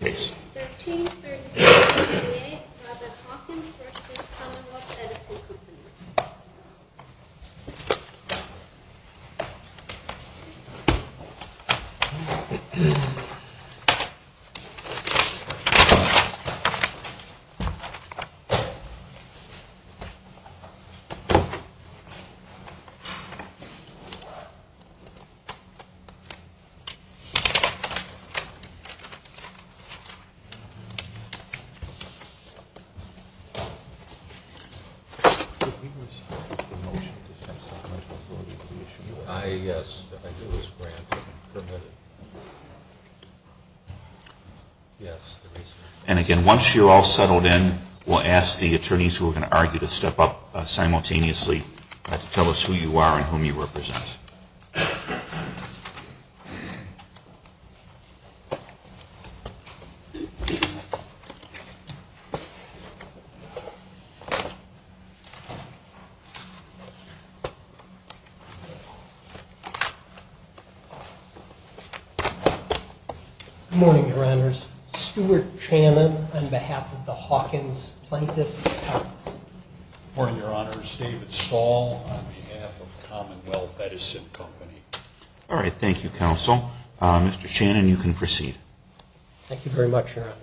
1336 B.A. Robert Hawkins v. Commonwealth Edison Co. And again, once you're all settled in, we'll ask the attorneys who are going to argue to step up simultaneously to tell us who you are and whom you represent. Good morning, Your Honors. Stuart Chanin on behalf of the Hawkins Plaintiffs. Good morning, Your Honors. David Stahl on behalf of Commonwealth Edison Company. All right, thank you, Counsel. Mr. Chanin, you can proceed. Thank you very much, Your Honor.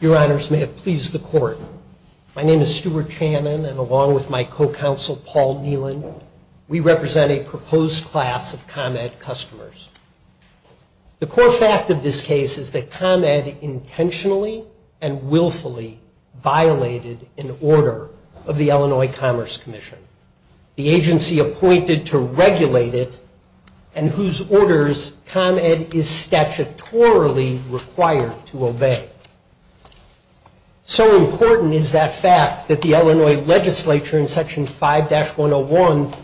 Your Honors, may it please the Court, my name is Stuart Chanin, and along with my co-counsel, Paul Neelan, we represent a proposed class of ComEd customers. The core fact of this case is that ComEd intentionally and willfully violated an order of the Illinois Commerce Commission, the agency appointed to regulate it, and whose orders ComEd is statutorily required to obey. So important is that fact that the Illinois legislature in Section 5-101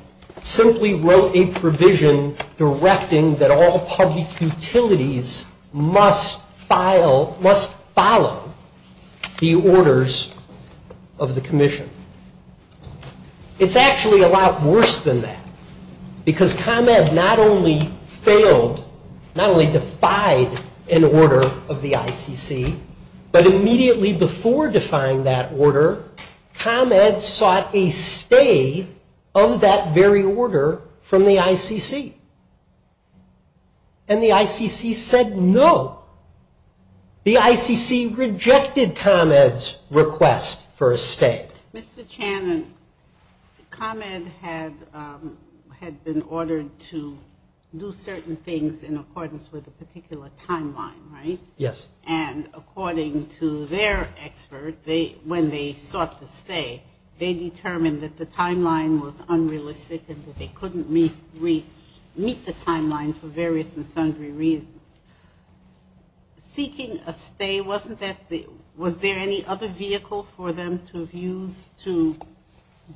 simply wrote a provision directing that all public utilities must follow the orders of the commission. It's actually a lot worse than that, because ComEd not only failed, not only defied an order of the ICC, but immediately before defying that order, ComEd sought a stay of that very order from the ICC. And the ICC said no. The ICC rejected ComEd's request for a stay. Mr. Chanin, ComEd had been ordered to do certain things in accordance with a particular timeline, right? Yes. And according to their expert, when they sought the stay, they determined that the timeline was unrealistic and that they couldn't meet the timeline for various and sundry reasons. Seeking a stay, was there any other vehicle for them to have used to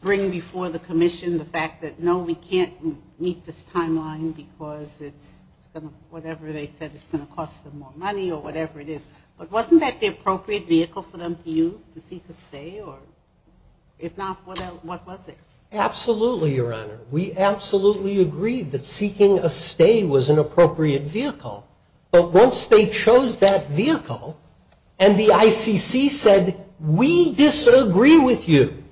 bring before the commission the fact that, no, we can't meet this timeline because it's going to, whatever they said, it's going to cost them more money or whatever it is. But wasn't that the appropriate vehicle for them to use to seek a stay? Or if not, what was it? Absolutely, Your Honor. We absolutely agree that seeking a stay was an appropriate vehicle. But once they chose that vehicle, and the ICC said, we disagree with you.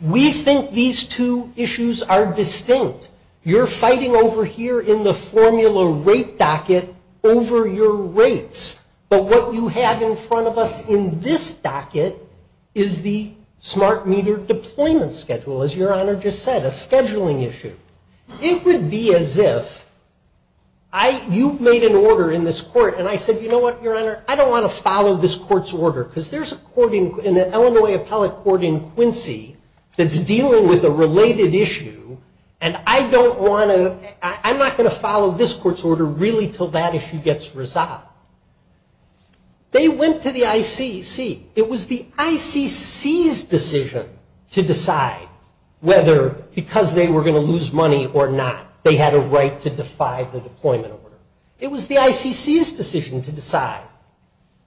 We think these two issues are distinct. You're fighting over here in the formula rate docket over your rates. But what you have in front of us in this docket is the smart meter deployment schedule, as Your Honor just said, a scheduling issue. It would be as if you made an order in this court, and I said, you know what, Your Honor, I don't want to follow this court's order because there's an Illinois appellate court in Quincy that's dealing with a related issue, and I don't want to, I'm not going to follow this court's order really until that issue gets resolved. They went to the ICC. It was the ICC's decision to decide whether, because they were going to lose money or not, they had a right to defy the deployment order. It was the ICC's decision to decide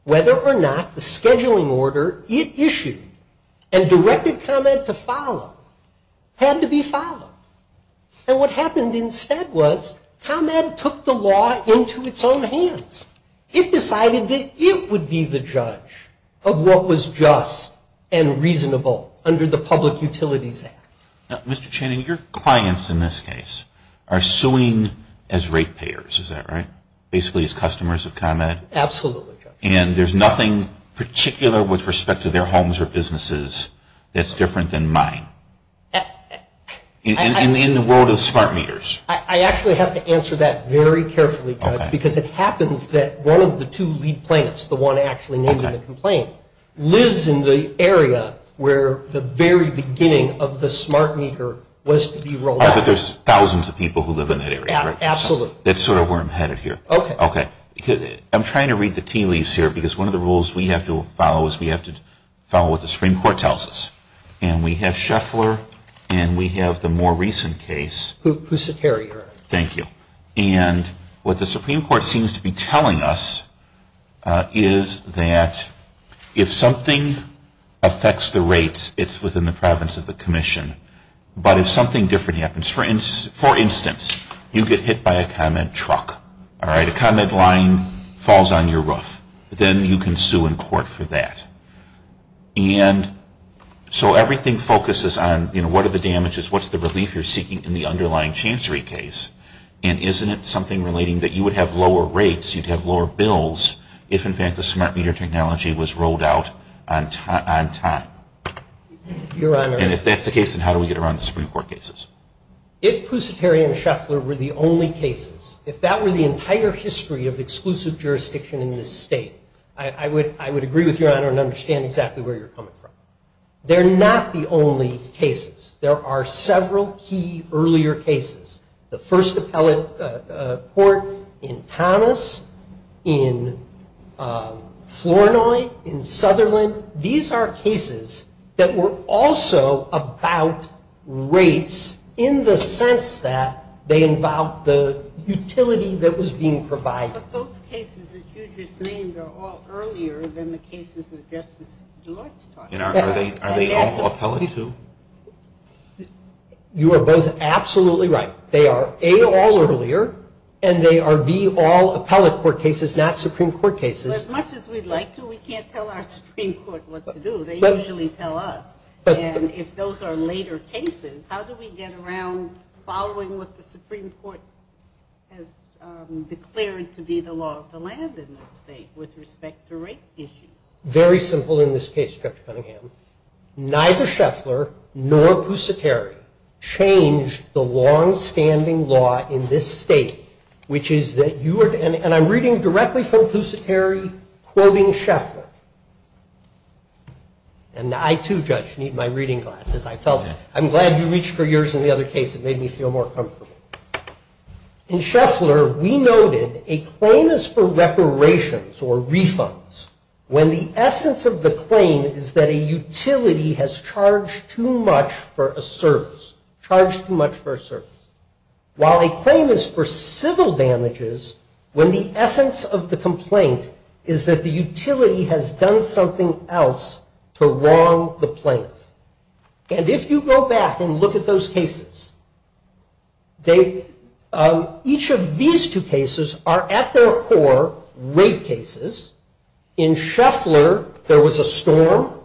whether or not the scheduling order it issued and directed ComEd to follow had to be followed. And what happened instead was ComEd took the law into its own hands. It decided that it would be the judge of what was just and reasonable under the Public Utilities Act. Now, Mr. Channing, your clients in this case are suing as rate payers, is that right? Basically as customers of ComEd? Absolutely, Judge. And there's nothing particular with respect to their homes or businesses that's different than mine? In the world of smart meters? I actually have to answer that very carefully, Judge, because it happens that one of the two lead plaintiffs, the one actually named in the complaint, lives in the area where the very beginning of the smart meter was to be rolled out. But there's thousands of people who live in that area, right? Absolutely. That's sort of where I'm headed here. Okay. Okay. I'm trying to read the tea leaves here because one of the rules we have to follow is we have to follow what the Supreme Court tells us. And we have Scheffler and we have the more recent case. Pusaterior. Thank you. And what the Supreme Court seems to be telling us is that if something affects the rates, it's within the province of the commission. But if something different happens, for instance, you get hit by a ComEd truck, all right? A ComEd line falls on your roof. Then you can sue in court for that. And so everything focuses on, you know, what are the damages? What's the relief you're seeking in the underlying chancery case? And isn't it something relating that you would have lower rates, you'd have lower bills, if, in fact, the smart meter technology was rolled out on time? Your Honor. And if that's the case, then how do we get around the Supreme Court cases? If Pusaterior and Scheffler were the only cases, if that were the entire history of exclusive jurisdiction in this state, I would agree with Your Honor and understand exactly where you're coming from. They're not the only cases. There are several key earlier cases. The first appellate court in Thomas, in Flournoy, in Sutherland. These are cases that were also about rates in the sense that they involved the utility that was being provided. But those cases that you just named are all earlier than the cases that Justice DeLorte's talking about. Are they all appellate too? You are both absolutely right. They are, A, all earlier, and they are, B, all appellate court cases, not Supreme Court cases. As much as we'd like to, we can't tell our Supreme Court what to do. They usually tell us. And if those are later cases, how do we get around following what the Supreme Court has declared to be the law of the land in this state with respect to rate issues? Very simple in this case, Judge Cunningham. Neither Scheffler nor Pusaterior changed the longstanding law in this state, which is that you are, and I'm reading directly from Pusaterior quoting Scheffler. And I too, Judge, need my reading glasses. I felt it. I'm glad you reached for yours in the other case. It made me feel more comfortable. In Scheffler, we noted a claim is for reparations or refunds when the essence of the claim is that a utility has charged too much for a service. Charged too much for a service. While a claim is for civil damages when the essence of the complaint is that the utility has done something else to wrong the plaintiff. And if you go back and look at those cases, each of these two cases are at their core rape cases. In Scheffler, there was a storm.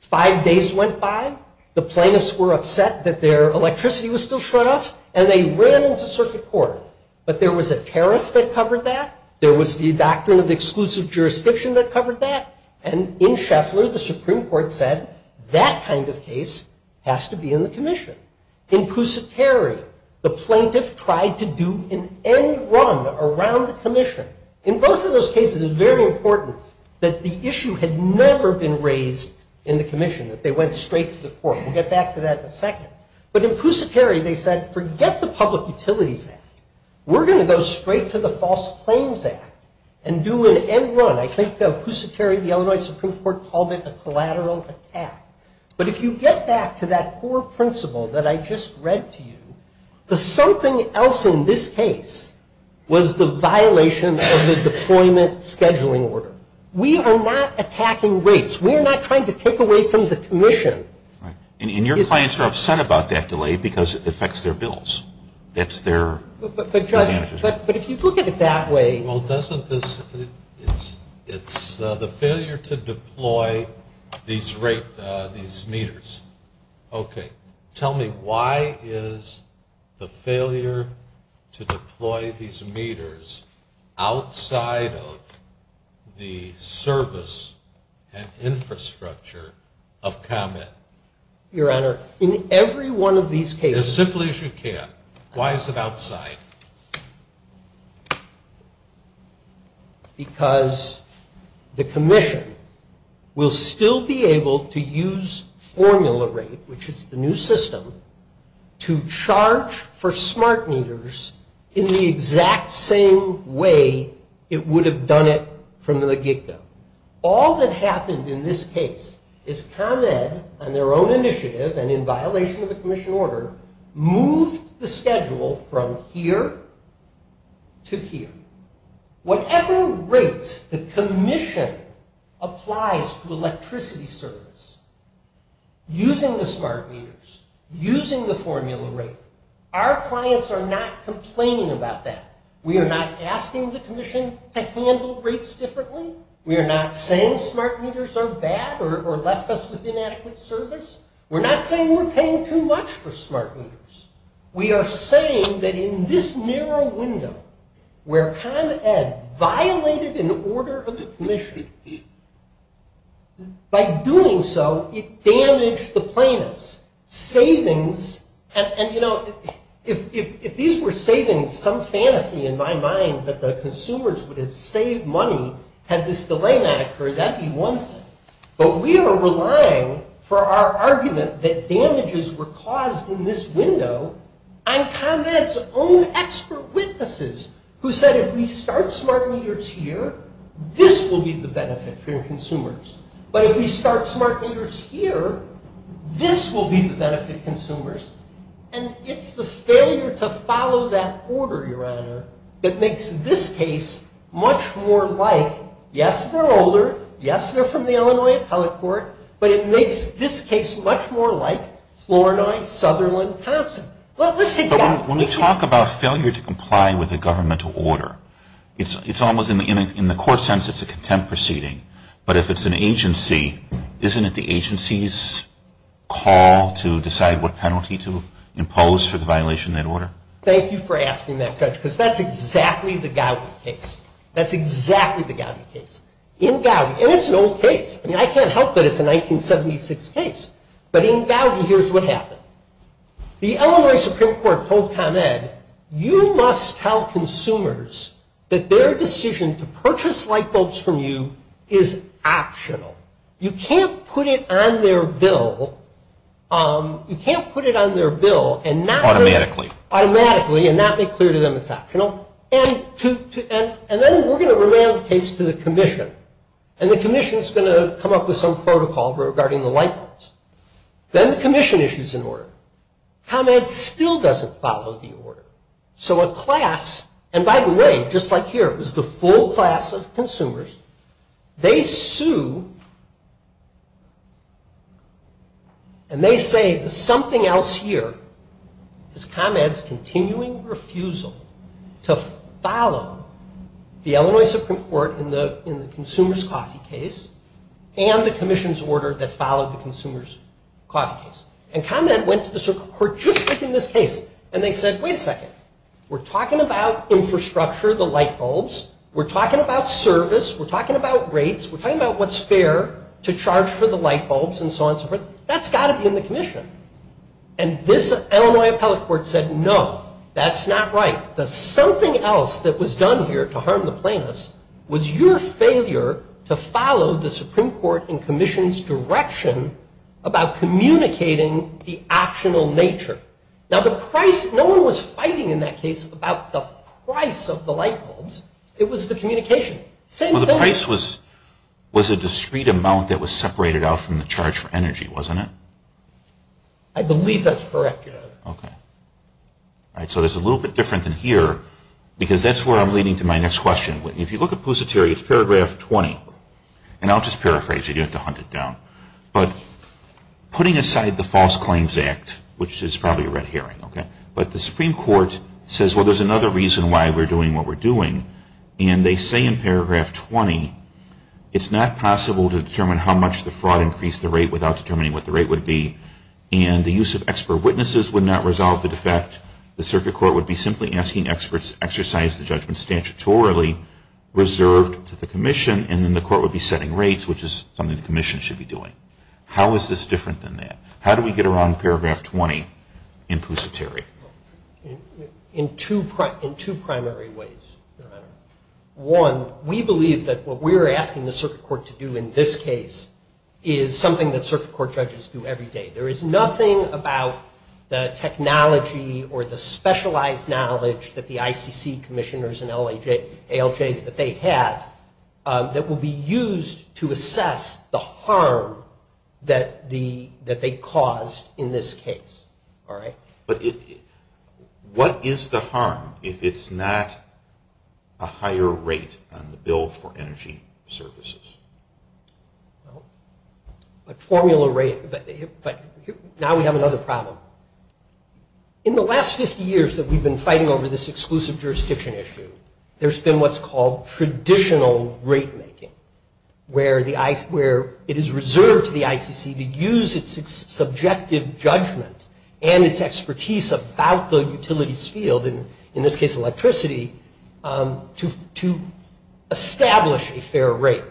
Five days went by. The plaintiffs were upset that their electricity was still shut off, and they ran into circuit court. But there was a tariff that covered that. There was the doctrine of exclusive jurisdiction that covered that. And in Scheffler, the Supreme Court said that kind of case has to be in the commission. In Pusaterior, the plaintiff tried to do an end run around the commission. In both of those cases, it's very important that the issue had never been raised in the commission, that they went straight to the court. We'll get back to that in a second. But in Pusaterior, they said, forget the Public Utilities Act. We're going to go straight to the False Claims Act and do an end run. I think Pusaterior, the Illinois Supreme Court, called it a collateral attack. But if you get back to that core principle that I just read to you, the something else in this case was the violation of the deployment scheduling order. We are not attacking rapes. We are not trying to take away from the commission. And your clients are upset about that delay because it affects their bills. But, Judge, if you look at it that way. Well, it's the failure to deploy these meters. Okay. Tell me, why is the failure to deploy these meters outside of the service and infrastructure of Comet? Your Honor, in every one of these cases. As simply as you can. Why is it outside? Because the commission will still be able to use formula rate, which is the new system, to charge for smart meters in the exact same way it would have done it from the get-go. All that happened in this case is Comet, on their own initiative and in violation of the commission order, moved the schedule from here to here. Whatever rates the commission applies to electricity service using the smart meters, using the formula rate, our clients are not complaining about that. We are not asking the commission to handle rates differently. We are not saying smart meters are bad or left us with inadequate service. We're not saying we're paying too much for smart meters. We are saying that in this narrow window, where Comet had violated an order of the commission, by doing so, it damaged the plaintiff's savings. And, you know, if these were savings, some fantasy in my mind that the consumers would have saved money had this delay not occurred, that would be one thing. But we are relying for our argument that damages were caused in this window on Comet's own expert witnesses who said if we start smart meters here, this will be the benefit for your consumers. But if we start smart meters here, this will be the benefit to consumers. And it's the failure to follow that order, Your Honor, that makes this case much more like, yes, they're older. Yes, they're from the Illinois Appellate Court. But it makes this case much more like Flournoy, Sutherland, Thompson. Well, let's take that. When we talk about failure to comply with a governmental order, it's almost in the court sense it's a contempt proceeding. But if it's an agency, isn't it the agency's call to decide what penalty to impose for the violation of that order? Thank you for asking that, Judge, because that's exactly the Gowdy case. That's exactly the Gowdy case. In Gowdy, and it's an old case. I mean, I can't help that it's a 1976 case. But in Gowdy, here's what happened. The Illinois Supreme Court told ComEd, you must tell consumers that their decision to purchase light bulbs from you is optional. You can't put it on their bill. You can't put it on their bill and not make clear to them it's optional. And then we're going to remand the case to the commission. And the commission is going to come up with some protocol regarding the light bulbs. Then the commission issues an order. ComEd still doesn't follow the order. So a class, and by the way, just like here, it was the full class of consumers, they sue, and they say that something else here is ComEd's continuing refusal to follow the Illinois Supreme Court in the consumer's coffee case and the commission's order that followed the consumer's coffee case. And ComEd went to the Supreme Court just like in this case, and they said, wait a second. We're talking about infrastructure, the light bulbs. We're talking about service. We're talking about rates. We're talking about what's fair to charge for the light bulbs and so on and so forth. That's got to be in the commission. And this Illinois appellate court said, no, that's not right. The something else that was done here to harm the plaintiffs was your failure to follow the Supreme Court and commission's direction about communicating the optional nature. Now, the price, no one was fighting in that case about the price of the light bulbs. It was the communication. Well, the price was a discrete amount that was separated out from the charge for energy, wasn't it? I believe that's correct, yeah. Okay. All right. So it's a little bit different than here because that's where I'm leading to my next question. If you look at Pusateri, it's paragraph 20, and I'll just paraphrase it. You don't have to hunt it down. But putting aside the False Claims Act, which is probably a red herring, okay, but the Supreme Court says, well, there's another reason why we're doing what we're doing. And they say in paragraph 20, it's not possible to determine how much the fraud increased the rate without determining what the rate would be, and the use of expert witnesses would not resolve the defect. The circuit court would be simply asking experts to exercise the judgment statutorily reserved to the commission, and then the court would be setting rates, which is something the commission should be doing. How is this different than that? How do we get around paragraph 20 in Pusateri? In two primary ways, Your Honor. One, we believe that what we're asking the circuit court to do in this case is something that circuit court judges do every day. There is nothing about the technology or the specialized knowledge that the ICC commissioners and ALJs that they have that will be used to assess the harm that they caused in this case. All right? But what is the harm if it's not a higher rate on the bill for energy services? Well, a formula rate, but now we have another problem. In the last 50 years that we've been fighting over this exclusive jurisdiction issue, there's been what's called traditional rate making, where it is reserved to the ICC to use its subjective judgment and its expertise about the utilities field, in this case electricity, to establish a fair rate.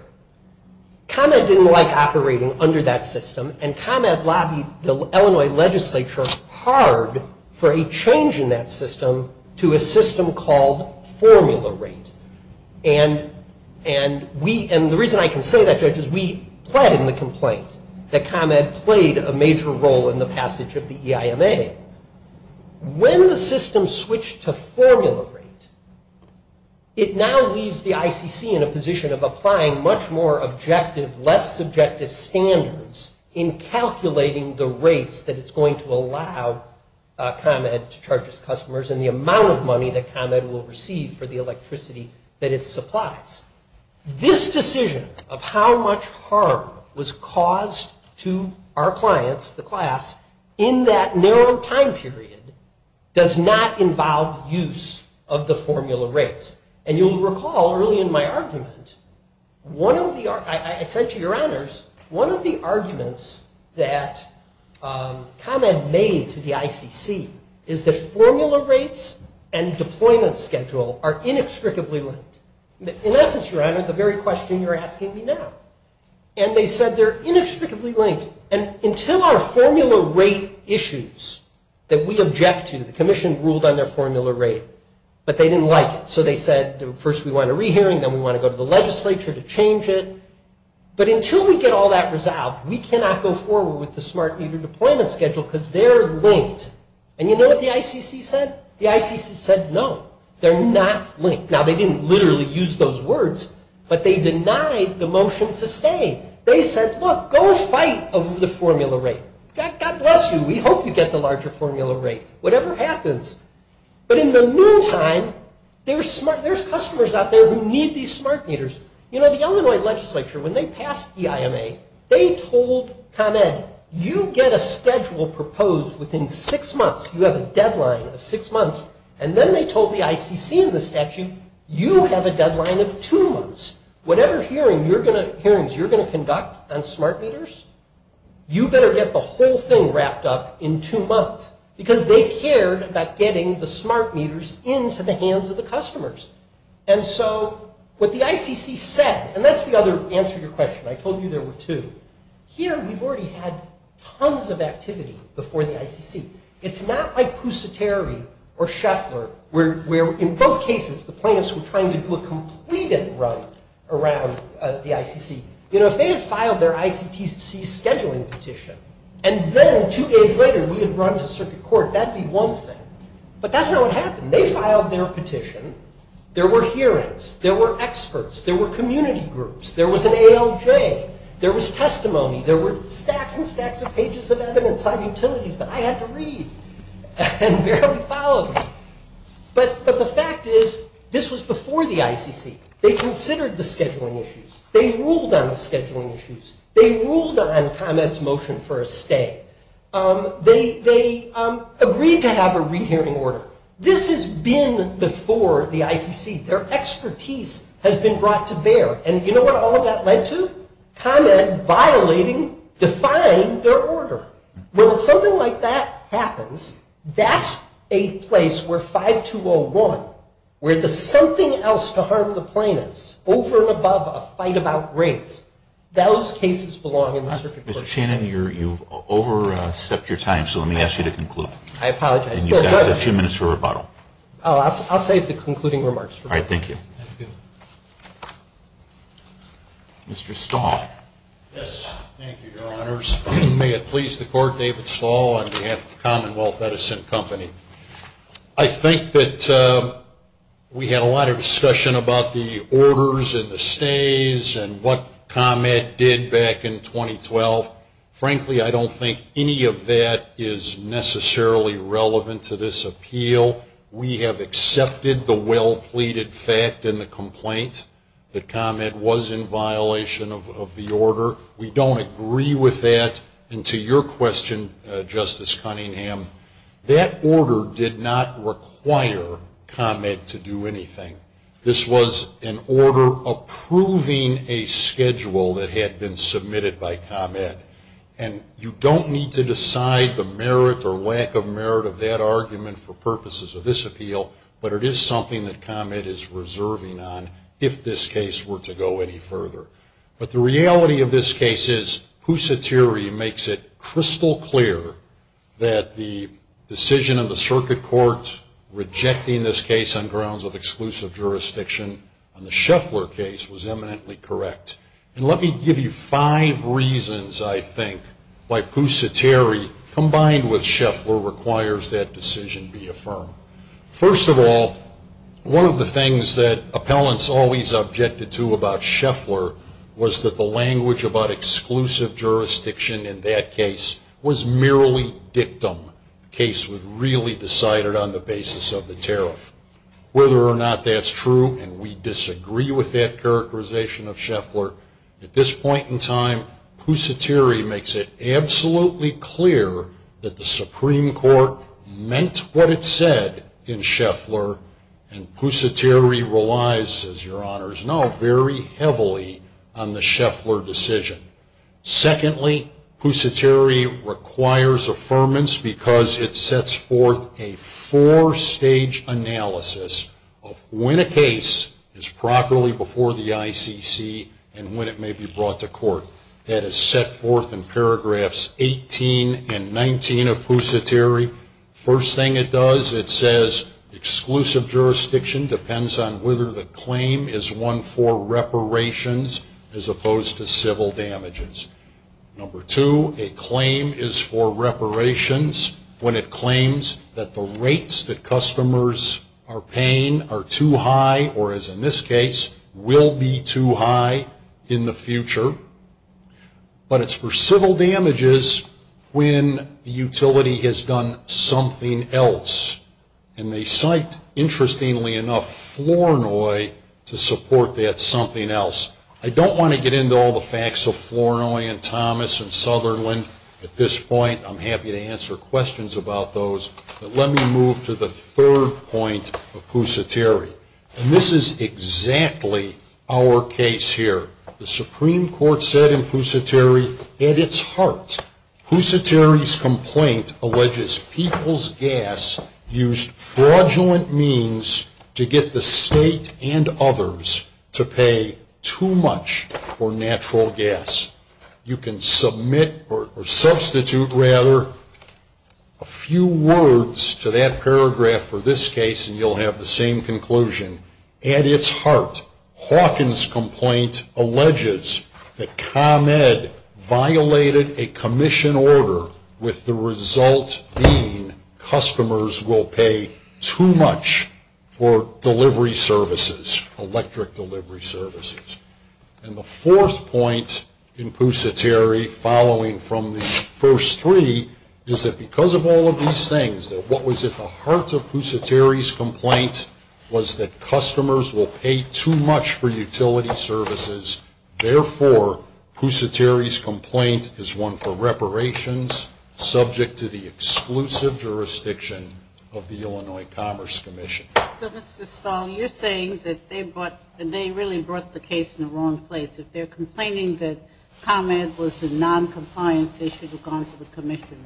ComEd didn't like operating under that system, and ComEd lobbied the Illinois legislature hard for a change in that system to a system called formula rate. And the reason I can say that, Judge, is we pled in the complaint that ComEd played a major role in the passage of the EIMA. When the system switched to formula rate, it now leaves the ICC in a position of applying much more objective, less subjective standards in calculating the rates that it's going to allow ComEd to charge its customers and the amount of money that ComEd will receive for the electricity that it supplies. This decision of how much harm was caused to our clients, the class, in that narrow time period, does not involve use of the formula rates. And you'll recall early in my argument, I said to your honors, one of the arguments that ComEd made to the ICC is that formula rates and deployment schedule are inextricably linked. In essence, your honor, the very question you're asking me now. And they said they're inextricably linked. And until our formula rate issues that we object to, the commission ruled on their formula rate, but they didn't like it. So they said, first we want a re-hearing, then we want to go to the legislature to change it. But until we get all that resolved, we cannot go forward with the smart meter deployment schedule because they're linked. And you know what the ICC said? The ICC said no, they're not linked. Now they didn't literally use those words, but they denied the motion to stay. They said, look, go fight over the formula rate. God bless you. We hope you get the larger formula rate. Whatever happens. But in the meantime, there's customers out there who need these smart meters. You know, the Illinois legislature, when they passed EIMA, they told ComEd, you get a schedule proposed within six months. You have a deadline of six months. And then they told the ICC in the statute, you have a deadline of two months. Whatever hearings you're going to conduct on smart meters, you better get the whole thing wrapped up in two months. Because they cared about getting the smart meters into the hands of the customers. And so what the ICC said, and that's the other answer to your question. I told you there were two. It's not like Pusateri or Scheffler, where in both cases the plaintiffs were trying to do a completed run around the ICC. You know, if they had filed their ICTC scheduling petition, and then two days later we had run to circuit court, that would be one thing. But that's not what happened. They filed their petition. There were hearings. There were experts. There were community groups. There was an ALJ. There was testimony. There were stacks and stacks of pages of evidence on utilities that I had to read and barely followed. But the fact is, this was before the ICC. They considered the scheduling issues. They ruled on the scheduling issues. They ruled on ComEd's motion for a stay. They agreed to have a rehearing order. This has been before the ICC. Their expertise has been brought to bear. And you know what all of that led to? ComEd violating, defying their order. Well, if something like that happens, that's a place where 5201, where the something else to harm the plaintiffs over and above a fight about race, those cases belong in the circuit court. Mr. Shannon, you've overstepped your time, so let me ask you to conclude. I apologize. And you've got a few minutes for rebuttal. I'll save the concluding remarks for later. All right. Thank you. Thank you. Mr. Stahl. Yes. Thank you, Your Honors. May it please the Court, David Stahl on behalf of Commonwealth Medicine Company. I think that we had a lot of discussion about the orders and the stays and what ComEd did back in 2012. Frankly, I don't think any of that is necessarily relevant to this appeal. We have accepted the well-pleaded fact in the complaint that ComEd was in violation of the order. We don't agree with that. And to your question, Justice Cunningham, that order did not require ComEd to do anything. This was an order approving a schedule that had been submitted by ComEd. And you don't need to decide the merit or lack of merit of that argument for purposes of this appeal, but it is something that ComEd is reserving on if this case were to go any further. But the reality of this case is Pusatiri makes it crystal clear that the decision of the Circuit Court rejecting this case on grounds of exclusive jurisdiction on the Scheffler case was eminently correct. And let me give you five reasons I think why Pusatiri combined with Scheffler requires that decision be affirmed. First of all, one of the things that appellants always objected to about Scheffler was that the language about exclusive jurisdiction in that case was merely dictum. The case was really decided on the basis of the tariff. Whether or not that's true, and we disagree with that characterization of Scheffler, at this point in time Pusatiri makes it absolutely clear that the Supreme Court meant what it said in Scheffler, and Pusatiri relies, as your honors know, very heavily on the Scheffler decision. Secondly, Pusatiri requires affirmance because it sets forth a four-stage analysis of when a case is properly before the ICC and when it may be brought to court. That is set forth in paragraphs 18 and 19 of Pusatiri. First thing it does, it says exclusive jurisdiction depends on whether the claim is one for reparations as opposed to civil damages. Number two, a claim is for reparations when it claims that the rates that customers are paying are too high, or as in this case, will be too high in the future. But it's for civil damages when the utility has done something else. And they cite, interestingly enough, Flournoy to support that something else. I don't want to get into all the facts of Flournoy and Thomas and Sutherland at this point. I'm happy to answer questions about those, but let me move to the third point of Pusatiri. And this is exactly our case here. The Supreme Court said in Pusatiri, at its heart, Pusatiri's complaint alleges people's gas used fraudulent means to get the state and others to pay too much for natural gas. You can submit, or substitute rather, a few words to that paragraph for this case and you'll have the same conclusion. At its heart, Hawkins' complaint alleges that ComEd violated a commission order with the result being customers will pay too much for delivery services, electric delivery services. And the fourth point in Pusatiri, following from the first three, is that because of all of these things, that what was at the heart of Pusatiri's complaint was that customers will pay too much for utility services. Therefore, Pusatiri's complaint is one for reparations, subject to the exclusive jurisdiction of the Illinois Commerce Commission. So, Mr. Stahl, you're saying that they really brought the case in the wrong place. If they're complaining that ComEd was a noncompliance, they should have gone to the commission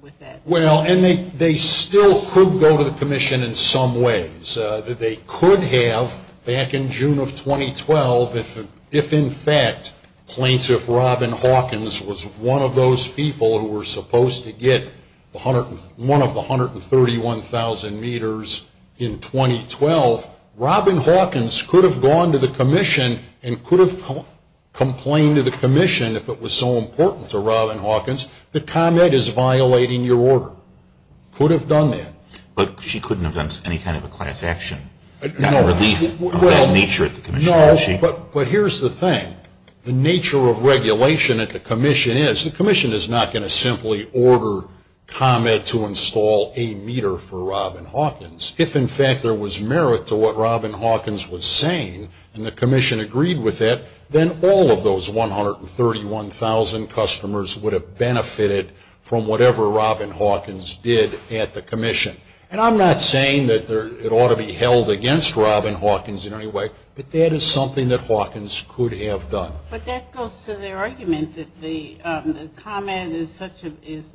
with that. Well, and they still could go to the commission in some ways. They could have, back in June of 2012, if in fact Plaintiff Robin Hawkins was one of those people who were supposed to get one of the 131,000 meters in 2012, Robin Hawkins could have gone to the commission and could have complained to the commission, if it was so important to Robin Hawkins, that ComEd is violating your order. Could have done that. But she couldn't have done any kind of a class action. No, but here's the thing. The nature of regulation at the commission is, the commission is not going to simply order ComEd to install a meter for Robin Hawkins. If, in fact, there was merit to what Robin Hawkins was saying, and the commission agreed with that, then all of those 131,000 customers would have benefited from whatever Robin Hawkins did at the commission. And I'm not saying that it ought to be held against Robin Hawkins in any way, but that is something that Hawkins could have done. But that goes to their argument that ComEd is such a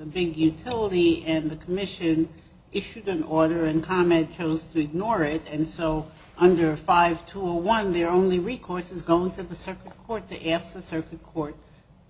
big utility, and the commission issued an order and ComEd chose to ignore it, and so under 5201 their only recourse is going to the circuit court to ask the circuit court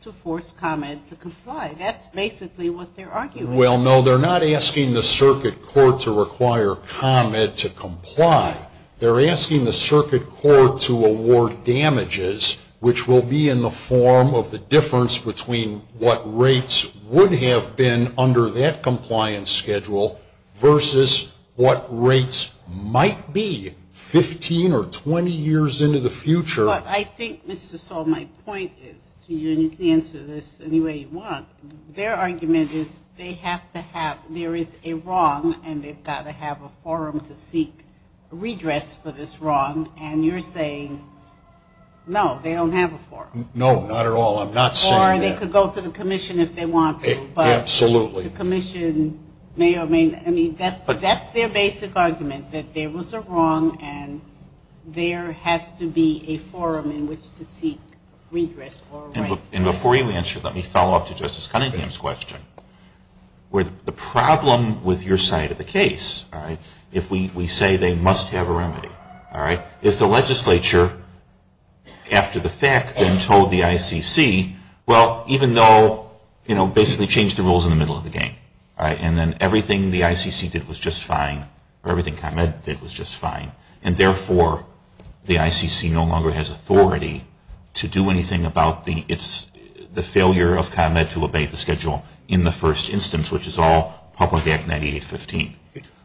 to force ComEd to comply. That's basically what their argument is. Well, no, they're not asking the circuit court to require ComEd to comply. They're asking the circuit court to award damages, which will be in the form of the difference between what rates would have been under that compliance schedule versus what rates might be 15 or 20 years into the future. But I think, Mr. Stahl, my point is, and you can answer this any way you want, their argument is they have to have, there is a wrong, and they've got to have a forum to seek redress for this wrong, and you're saying, no, they don't have a forum. No, not at all. I'm not saying that. Or they could go to the commission if they want to. Absolutely. But the commission, I mean, that's their basic argument, that there was a wrong and there has to be a forum in which to seek redress. And before you answer, let me follow up to Justice Cunningham's question. The problem with your side of the case, if we say they must have a remedy, is the legislature, after the fact, then told the ICC, well, even though basically change the rules in the middle of the game, and then everything the ICC did was just fine, or everything ComEd did was just fine, and therefore the ICC no longer has authority to do anything about the failure of ComEd to obey the schedule in the first instance, which is all public Act 9815.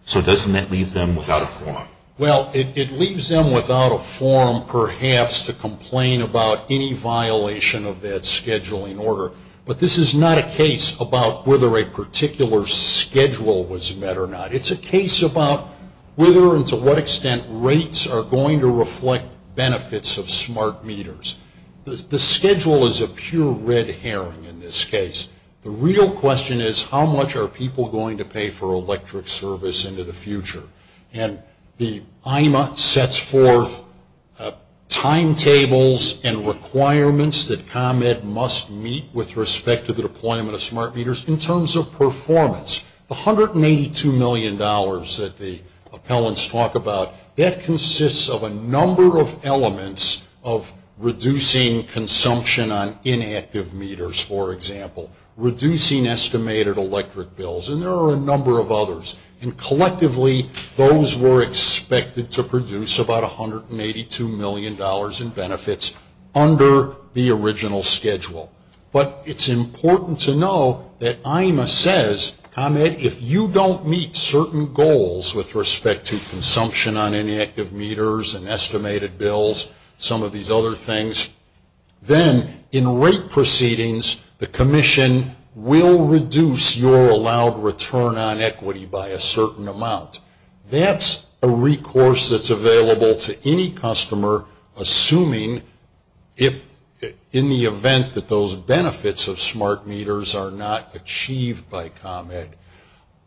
So doesn't that leave them without a forum? Well, it leaves them without a forum, perhaps, to complain about any violation of that scheduling order. But this is not a case about whether a particular schedule was met or not. It's a case about whether and to what extent rates are going to reflect benefits of smart meters. The schedule is a pure red herring in this case. The real question is how much are people going to pay for electric service into the future? And the IMA sets forth timetables and requirements that ComEd must meet with respect to the deployment of smart meters in terms of performance. The $182 million that the appellants talk about, that consists of a number of elements of reducing consumption on inactive meters, for example, reducing estimated electric bills, and there are a number of others. And collectively, those were expected to produce about $182 million in benefits under the original schedule. But it's important to know that IMA says, ComEd, if you don't meet certain goals with respect to consumption on inactive meters and estimated bills, some of these other things, then in rate proceedings, the commission will reduce your allowed return on equity by a certain amount. That's a recourse that's available to any customer, assuming in the event that those benefits of smart meters are not achieved by ComEd.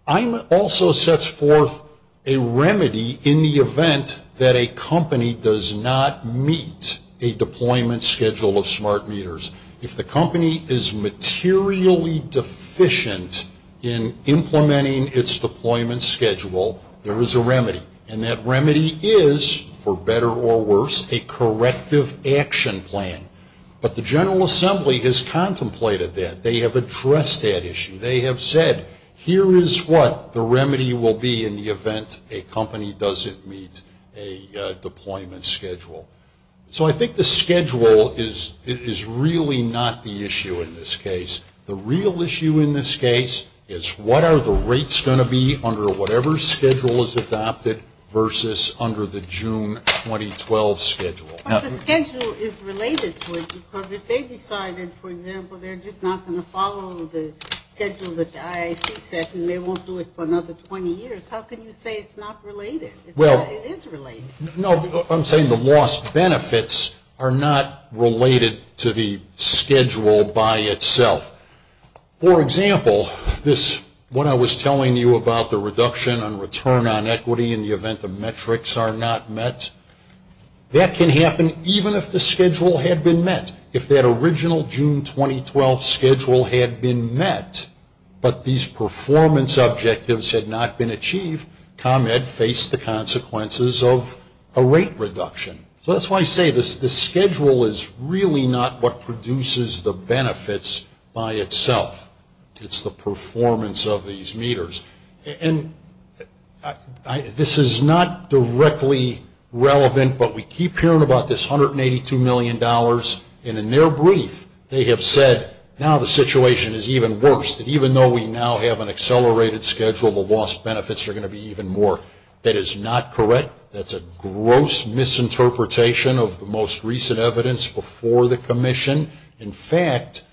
IMA also sets forth a remedy in the event that a company does not meet a deployment schedule of smart meters. If the company is materially deficient in implementing its deployment schedule, there is a remedy, and that remedy is, for better or worse, a corrective action plan. But the General Assembly has contemplated that. They have addressed that issue. They have said, Here is what the remedy will be in the event a company doesn't meet a deployment schedule. So I think the schedule is really not the issue in this case. The real issue in this case is what are the rates going to be under whatever schedule is adopted versus under the June 2012 schedule. But the schedule is related to it because if they decided, for example, they're just not going to follow the schedule that the IAC set and they won't do it for another 20 years, how can you say it's not related? It is related. No, I'm saying the lost benefits are not related to the schedule by itself. For example, when I was telling you about the reduction on return on equity in the event the metrics are not met, that can happen even if the schedule had been met. If that original June 2012 schedule had been met, but these performance objectives had not been achieved, ComEd faced the consequences of a rate reduction. So that's why I say the schedule is really not what produces the benefits by itself. It's the performance of these meters. And this is not directly relevant, but we keep hearing about this $182 million, and in their brief they have said now the situation is even worse, that even though we now have an accelerated schedule, the lost benefits are going to be even more. That is not correct. That's a gross misinterpretation of the most recent evidence before the commission. In fact,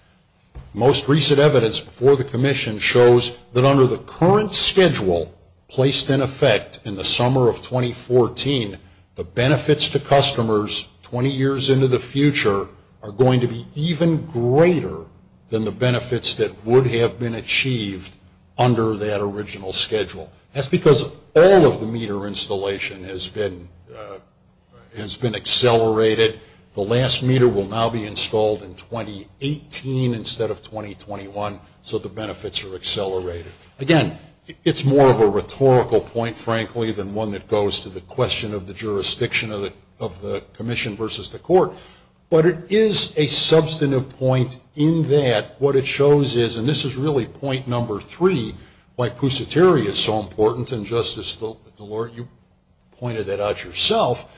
most recent evidence before the commission shows that under the current schedule placed in effect in the summer of 2014, the benefits to customers 20 years into the future are going to be even greater than the benefits that would have been achieved under that original schedule. That's because all of the meter installation has been accelerated. The last meter will now be installed in 2018 instead of 2021, so the benefits are accelerated. Again, it's more of a rhetorical point, frankly, than one that goes to the question of the jurisdiction of the commission versus the court. But it is a substantive point in that what it shows is, and this is really point number three, why Pusateri is so important, and Justice DeLore, you pointed that out yourself.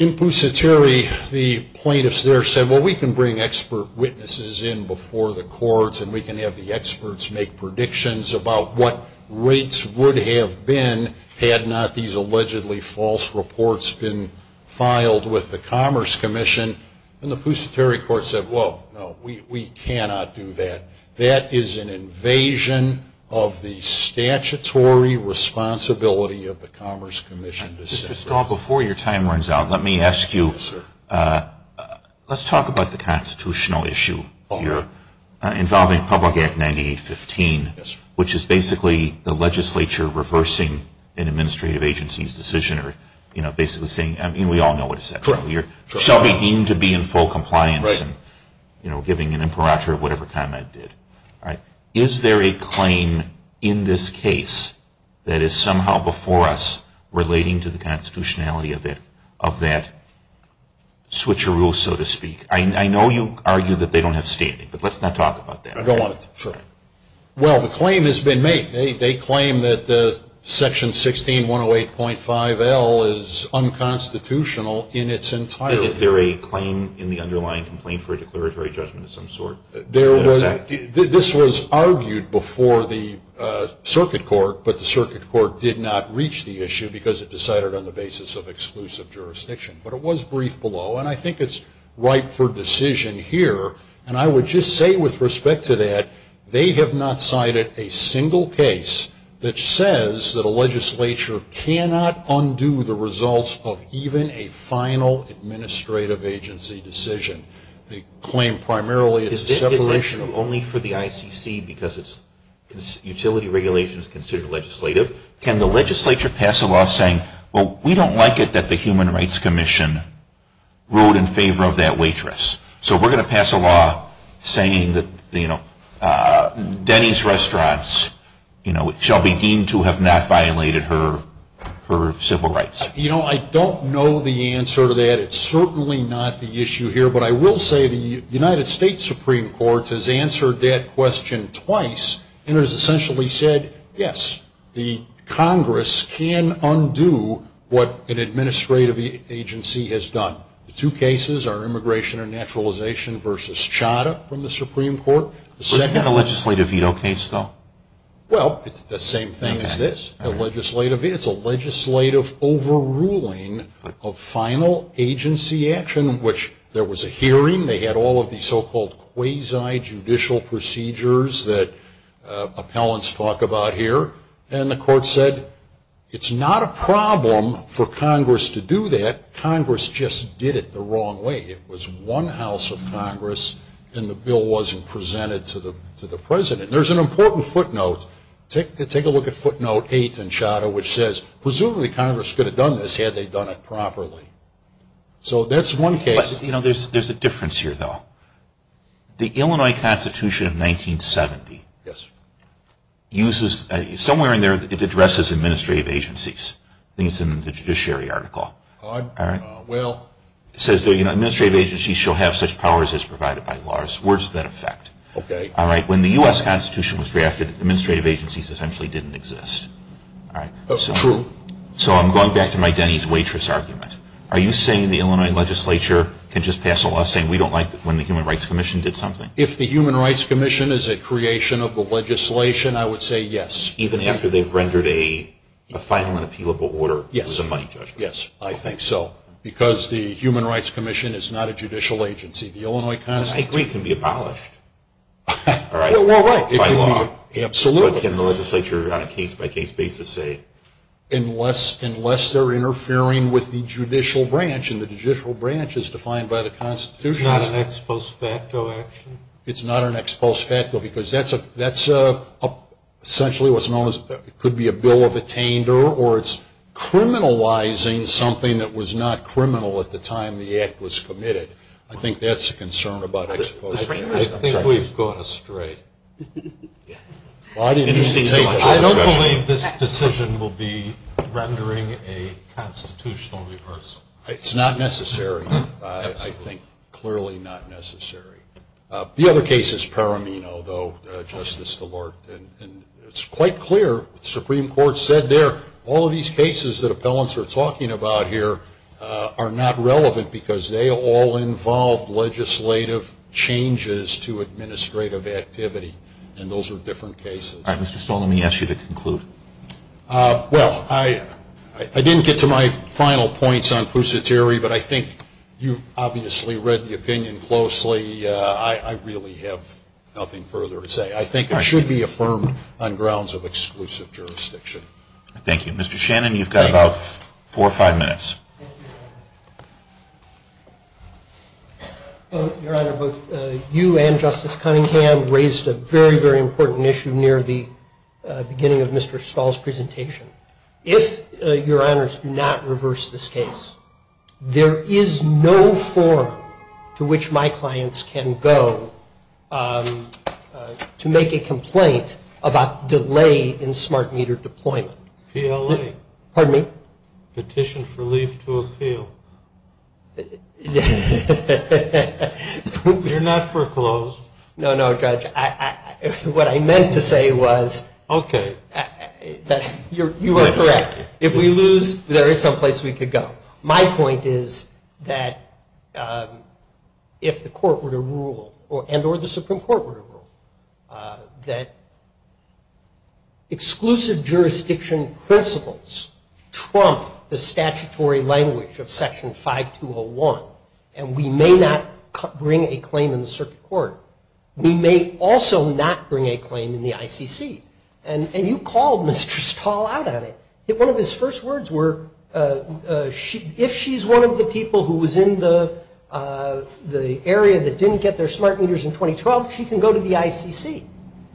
In Pusateri, the plaintiffs there said, well, we can bring expert witnesses in before the courts and we can have the experts make predictions about what rates would have been had not these allegedly false reports been filed with the Commerce Commission. And the Pusateri court said, well, no, we cannot do that. That is an invasion of the statutory responsibility of the Commerce Commission. Mr. Stahl, before your time runs out, let me ask you, let's talk about the constitutional issue here involving Public Act 9815, which is basically the legislature reversing an administrative agency's decision or basically saying, I mean, we all know what it says. It shall be deemed to be in full compliance and giving an imperature of whatever comment it did. Is there a claim in this case that is somehow before us relating to the constitutionality of that switcheroo, so to speak? I know you argue that they don't have standing, but let's not talk about that. Well, the claim has been made. They claim that Section 16108.5L is unconstitutional in its entirety. Is there a claim in the underlying complaint for a declaratory judgment of some sort? This was argued before the circuit court, but the circuit court did not reach the issue because it decided on the basis of exclusive jurisdiction. But it was briefed below, and I think it's ripe for decision here. And I would just say with respect to that, they have not cited a single case that says that a legislature cannot undo the results of even a final administrative agency decision. They claim primarily it's a separation. Is this issue only for the ICC because utility regulation is considered legislative? Can the legislature pass a law saying, well, we don't like it that the Human Rights Commission ruled in favor of that waitress. So we're going to pass a law saying that Denny's restaurants shall be deemed to have not violated her civil rights. You know, I don't know the answer to that. It's certainly not the issue here. But I will say the United States Supreme Court has answered that question twice and has essentially said, yes, the Congress can undo what an administrative agency has done. The two cases are immigration and naturalization versus Chadha from the Supreme Court. Was that a legislative veto case, though? Well, it's the same thing as this. It's a legislative overruling of final agency action, which there was a hearing. They had all of these so-called quasi-judicial procedures that appellants talk about here. And the court said it's not a problem for Congress to do that. Congress just did it the wrong way. It was one House of Congress, and the bill wasn't presented to the president. There's an important footnote. Take a look at footnote 8 in Chadha, which says presumably Congress could have done this had they done it properly. So that's one case. You know, there's a difference here, though. The Illinois Constitution of 1970 uses somewhere in there it addresses administrative agencies. I think it's in the judiciary article. All right. Well. It says, you know, administrative agencies shall have such powers as provided by laws. Where does that affect? Okay. All right. When the U.S. Constitution was drafted, administrative agencies essentially didn't exist. All right. True. So I'm going back to my Denny's waitress argument. Are you saying the Illinois legislature can just pass a law saying we don't like when the Human Rights Commission did something? If the Human Rights Commission is a creation of the legislation, I would say yes. Even after they've rendered a final and appealable order with a money judgment. Yes. I think so. Because the Human Rights Commission is not a judicial agency. The Illinois Constitution. I agree. It can be abolished. All right. By law. Absolutely. What can the legislature on a case-by-case basis say? Unless they're interfering with the judicial branch, and the judicial branch is defined by the Constitution. It's not an ex post facto action? It's not an ex post facto because that's essentially what's known as it could be a bill of attainder, or it's criminalizing something that was not criminal at the time the act was committed. I think that's a concern about ex post facto. I think we've gone astray. I don't believe this decision will be rendering a constitutional reversal. It's not necessary. I think clearly not necessary. The other case is Paramino, though, Justice DeLorte, and it's quite clear. The Supreme Court said there all of these cases that appellants are talking about here are not relevant because they all involve legislative changes to administrative activity, and those are different cases. All right, Mr. Stahl, let me ask you to conclude. Well, I didn't get to my final points on Pusateri, but I think you've obviously read the opinion closely. I really have nothing further to say. I think it should be affirmed on grounds of exclusive jurisdiction. Thank you. Mr. Shannon, you've got about four or five minutes. Your Honor, both you and Justice Cunningham raised a very, very important issue near the beginning of Mr. Stahl's presentation. If, Your Honors, you do not reverse this case, there is no forum to which my clients can go to make a complaint about delay in smart meter deployment. PLA. Pardon me? Petition for leave to appeal. You're not foreclosed. No, no, Judge. What I meant to say was that you are correct. If we lose, there is some place we could go. My point is that if the court were to rule, and or the Supreme Court were to rule, that exclusive jurisdiction principles trump the statutory language of Section 5201, and we may not bring a claim in the circuit court, we may also not bring a claim in the ICC. And you called Mr. Stahl out on it. One of his first words were, if she's one of the people who was in the area that didn't get their smart meters in 2012, she can go to the ICC.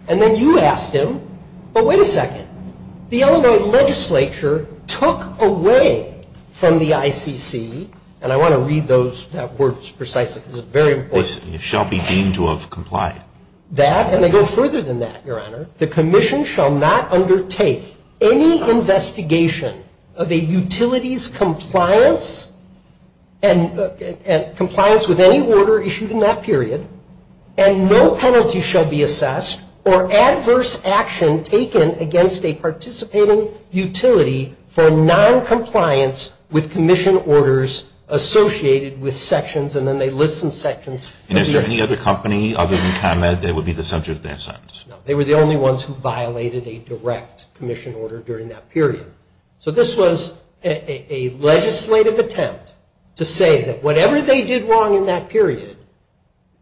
And then you asked him, but wait a second, the Illinois legislature took away from the ICC, and I want to read that word precisely because it's very important. It shall be deemed to have complied. That, and they go further than that, Your Honor. The commission shall not undertake any investigation of a utility's compliance and compliance with any order issued in that period, and no penalty shall be assessed or adverse action taken against a participating utility for noncompliance with commission orders associated with sections, and then they list some sections. And is there any other company other than ComEd that would be the subject of their sentence? No. They were the only ones who violated a direct commission order during that period. So this was a legislative attempt to say that whatever they did wrong in that period,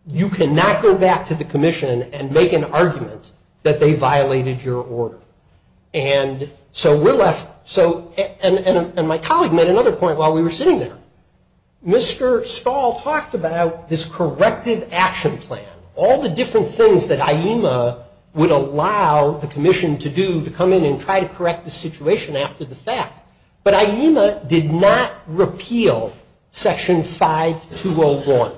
you cannot go back to the commission and make an argument that they violated your order. And so we're left, and my colleague made another point while we were sitting there. Mr. Stahl talked about this corrective action plan, all the different things that IEMA would allow the commission to do to come in and try to correct the situation after the fact. But IEMA did not repeal Section 5201.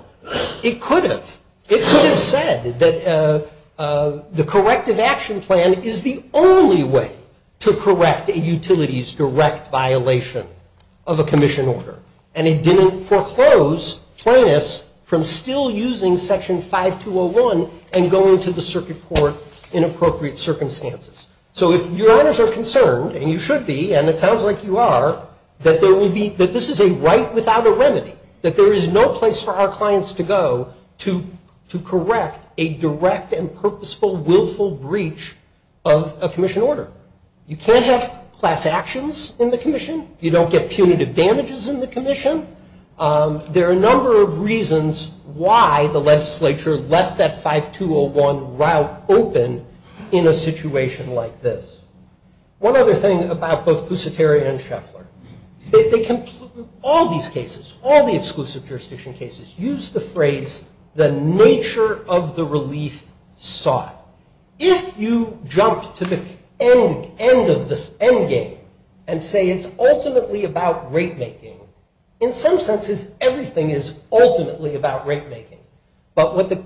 It could have. It could have said that the corrective action plan is the only way to correct a utility's direct violation of a commission order, and it didn't foreclose plaintiffs from still using Section 5201 and going to the circuit court in appropriate circumstances. So if your owners are concerned, and you should be, and it sounds like you are, that this is a right without a remedy, that there is no place for our clients to go to correct a direct and purposeful, willful breach of a commission order. You can't have class actions in the commission. You don't get punitive damages in the commission. There are a number of reasons why the legislature left that 5201 route open in a situation like this. One other thing about both Pusateri and Scheffler. All these cases, all the exclusive jurisdiction cases, use the phrase, the nature of the relief sought. Now, if you jump to the end of this end game and say it's ultimately about rate making, in some senses everything is ultimately about rate making. But what the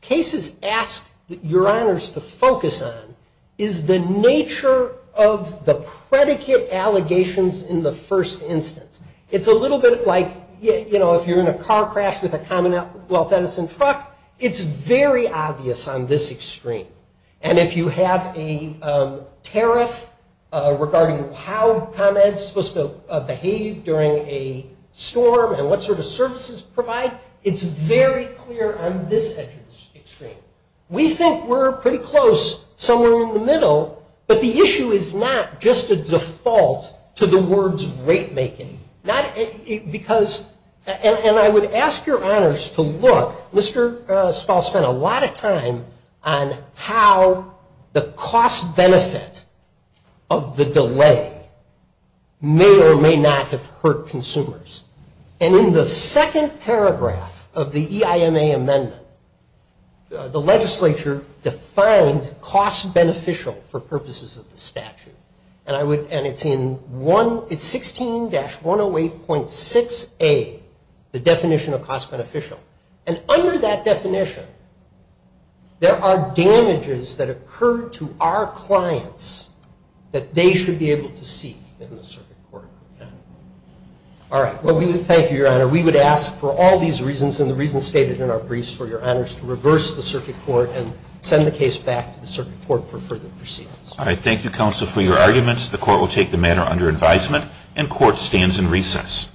cases ask your owners to focus on is the nature of the predicate allegations in the first instance. It's a little bit like, you know, if you're in a car crash with a Commonwealth Edison truck, it's very obvious on this extreme. And if you have a tariff regarding how ComEd is supposed to behave during a storm and what sort of services provide, it's very clear on this extreme. We think we're pretty close, somewhere in the middle, but the issue is not just a default to the words rate making. And I would ask your owners to look. Mr. Stahl spent a lot of time on how the cost benefit of the delay may or may not have hurt consumers. And in the second paragraph of the EIMA amendment, the legislature defined cost beneficial for purposes of the statute. And it's 16-108.6A, the definition of cost beneficial. And under that definition, there are damages that occur to our clients that they should be able to see in the circuit court. All right. Thank you, Your Honor. We would ask for all these reasons and the reasons stated in our briefs for your honors to reverse the circuit court and send the case back to the circuit court for further proceedings. All right. Thank you, counsel, for your arguments. The court will take the matter under advisement and court stands in recess.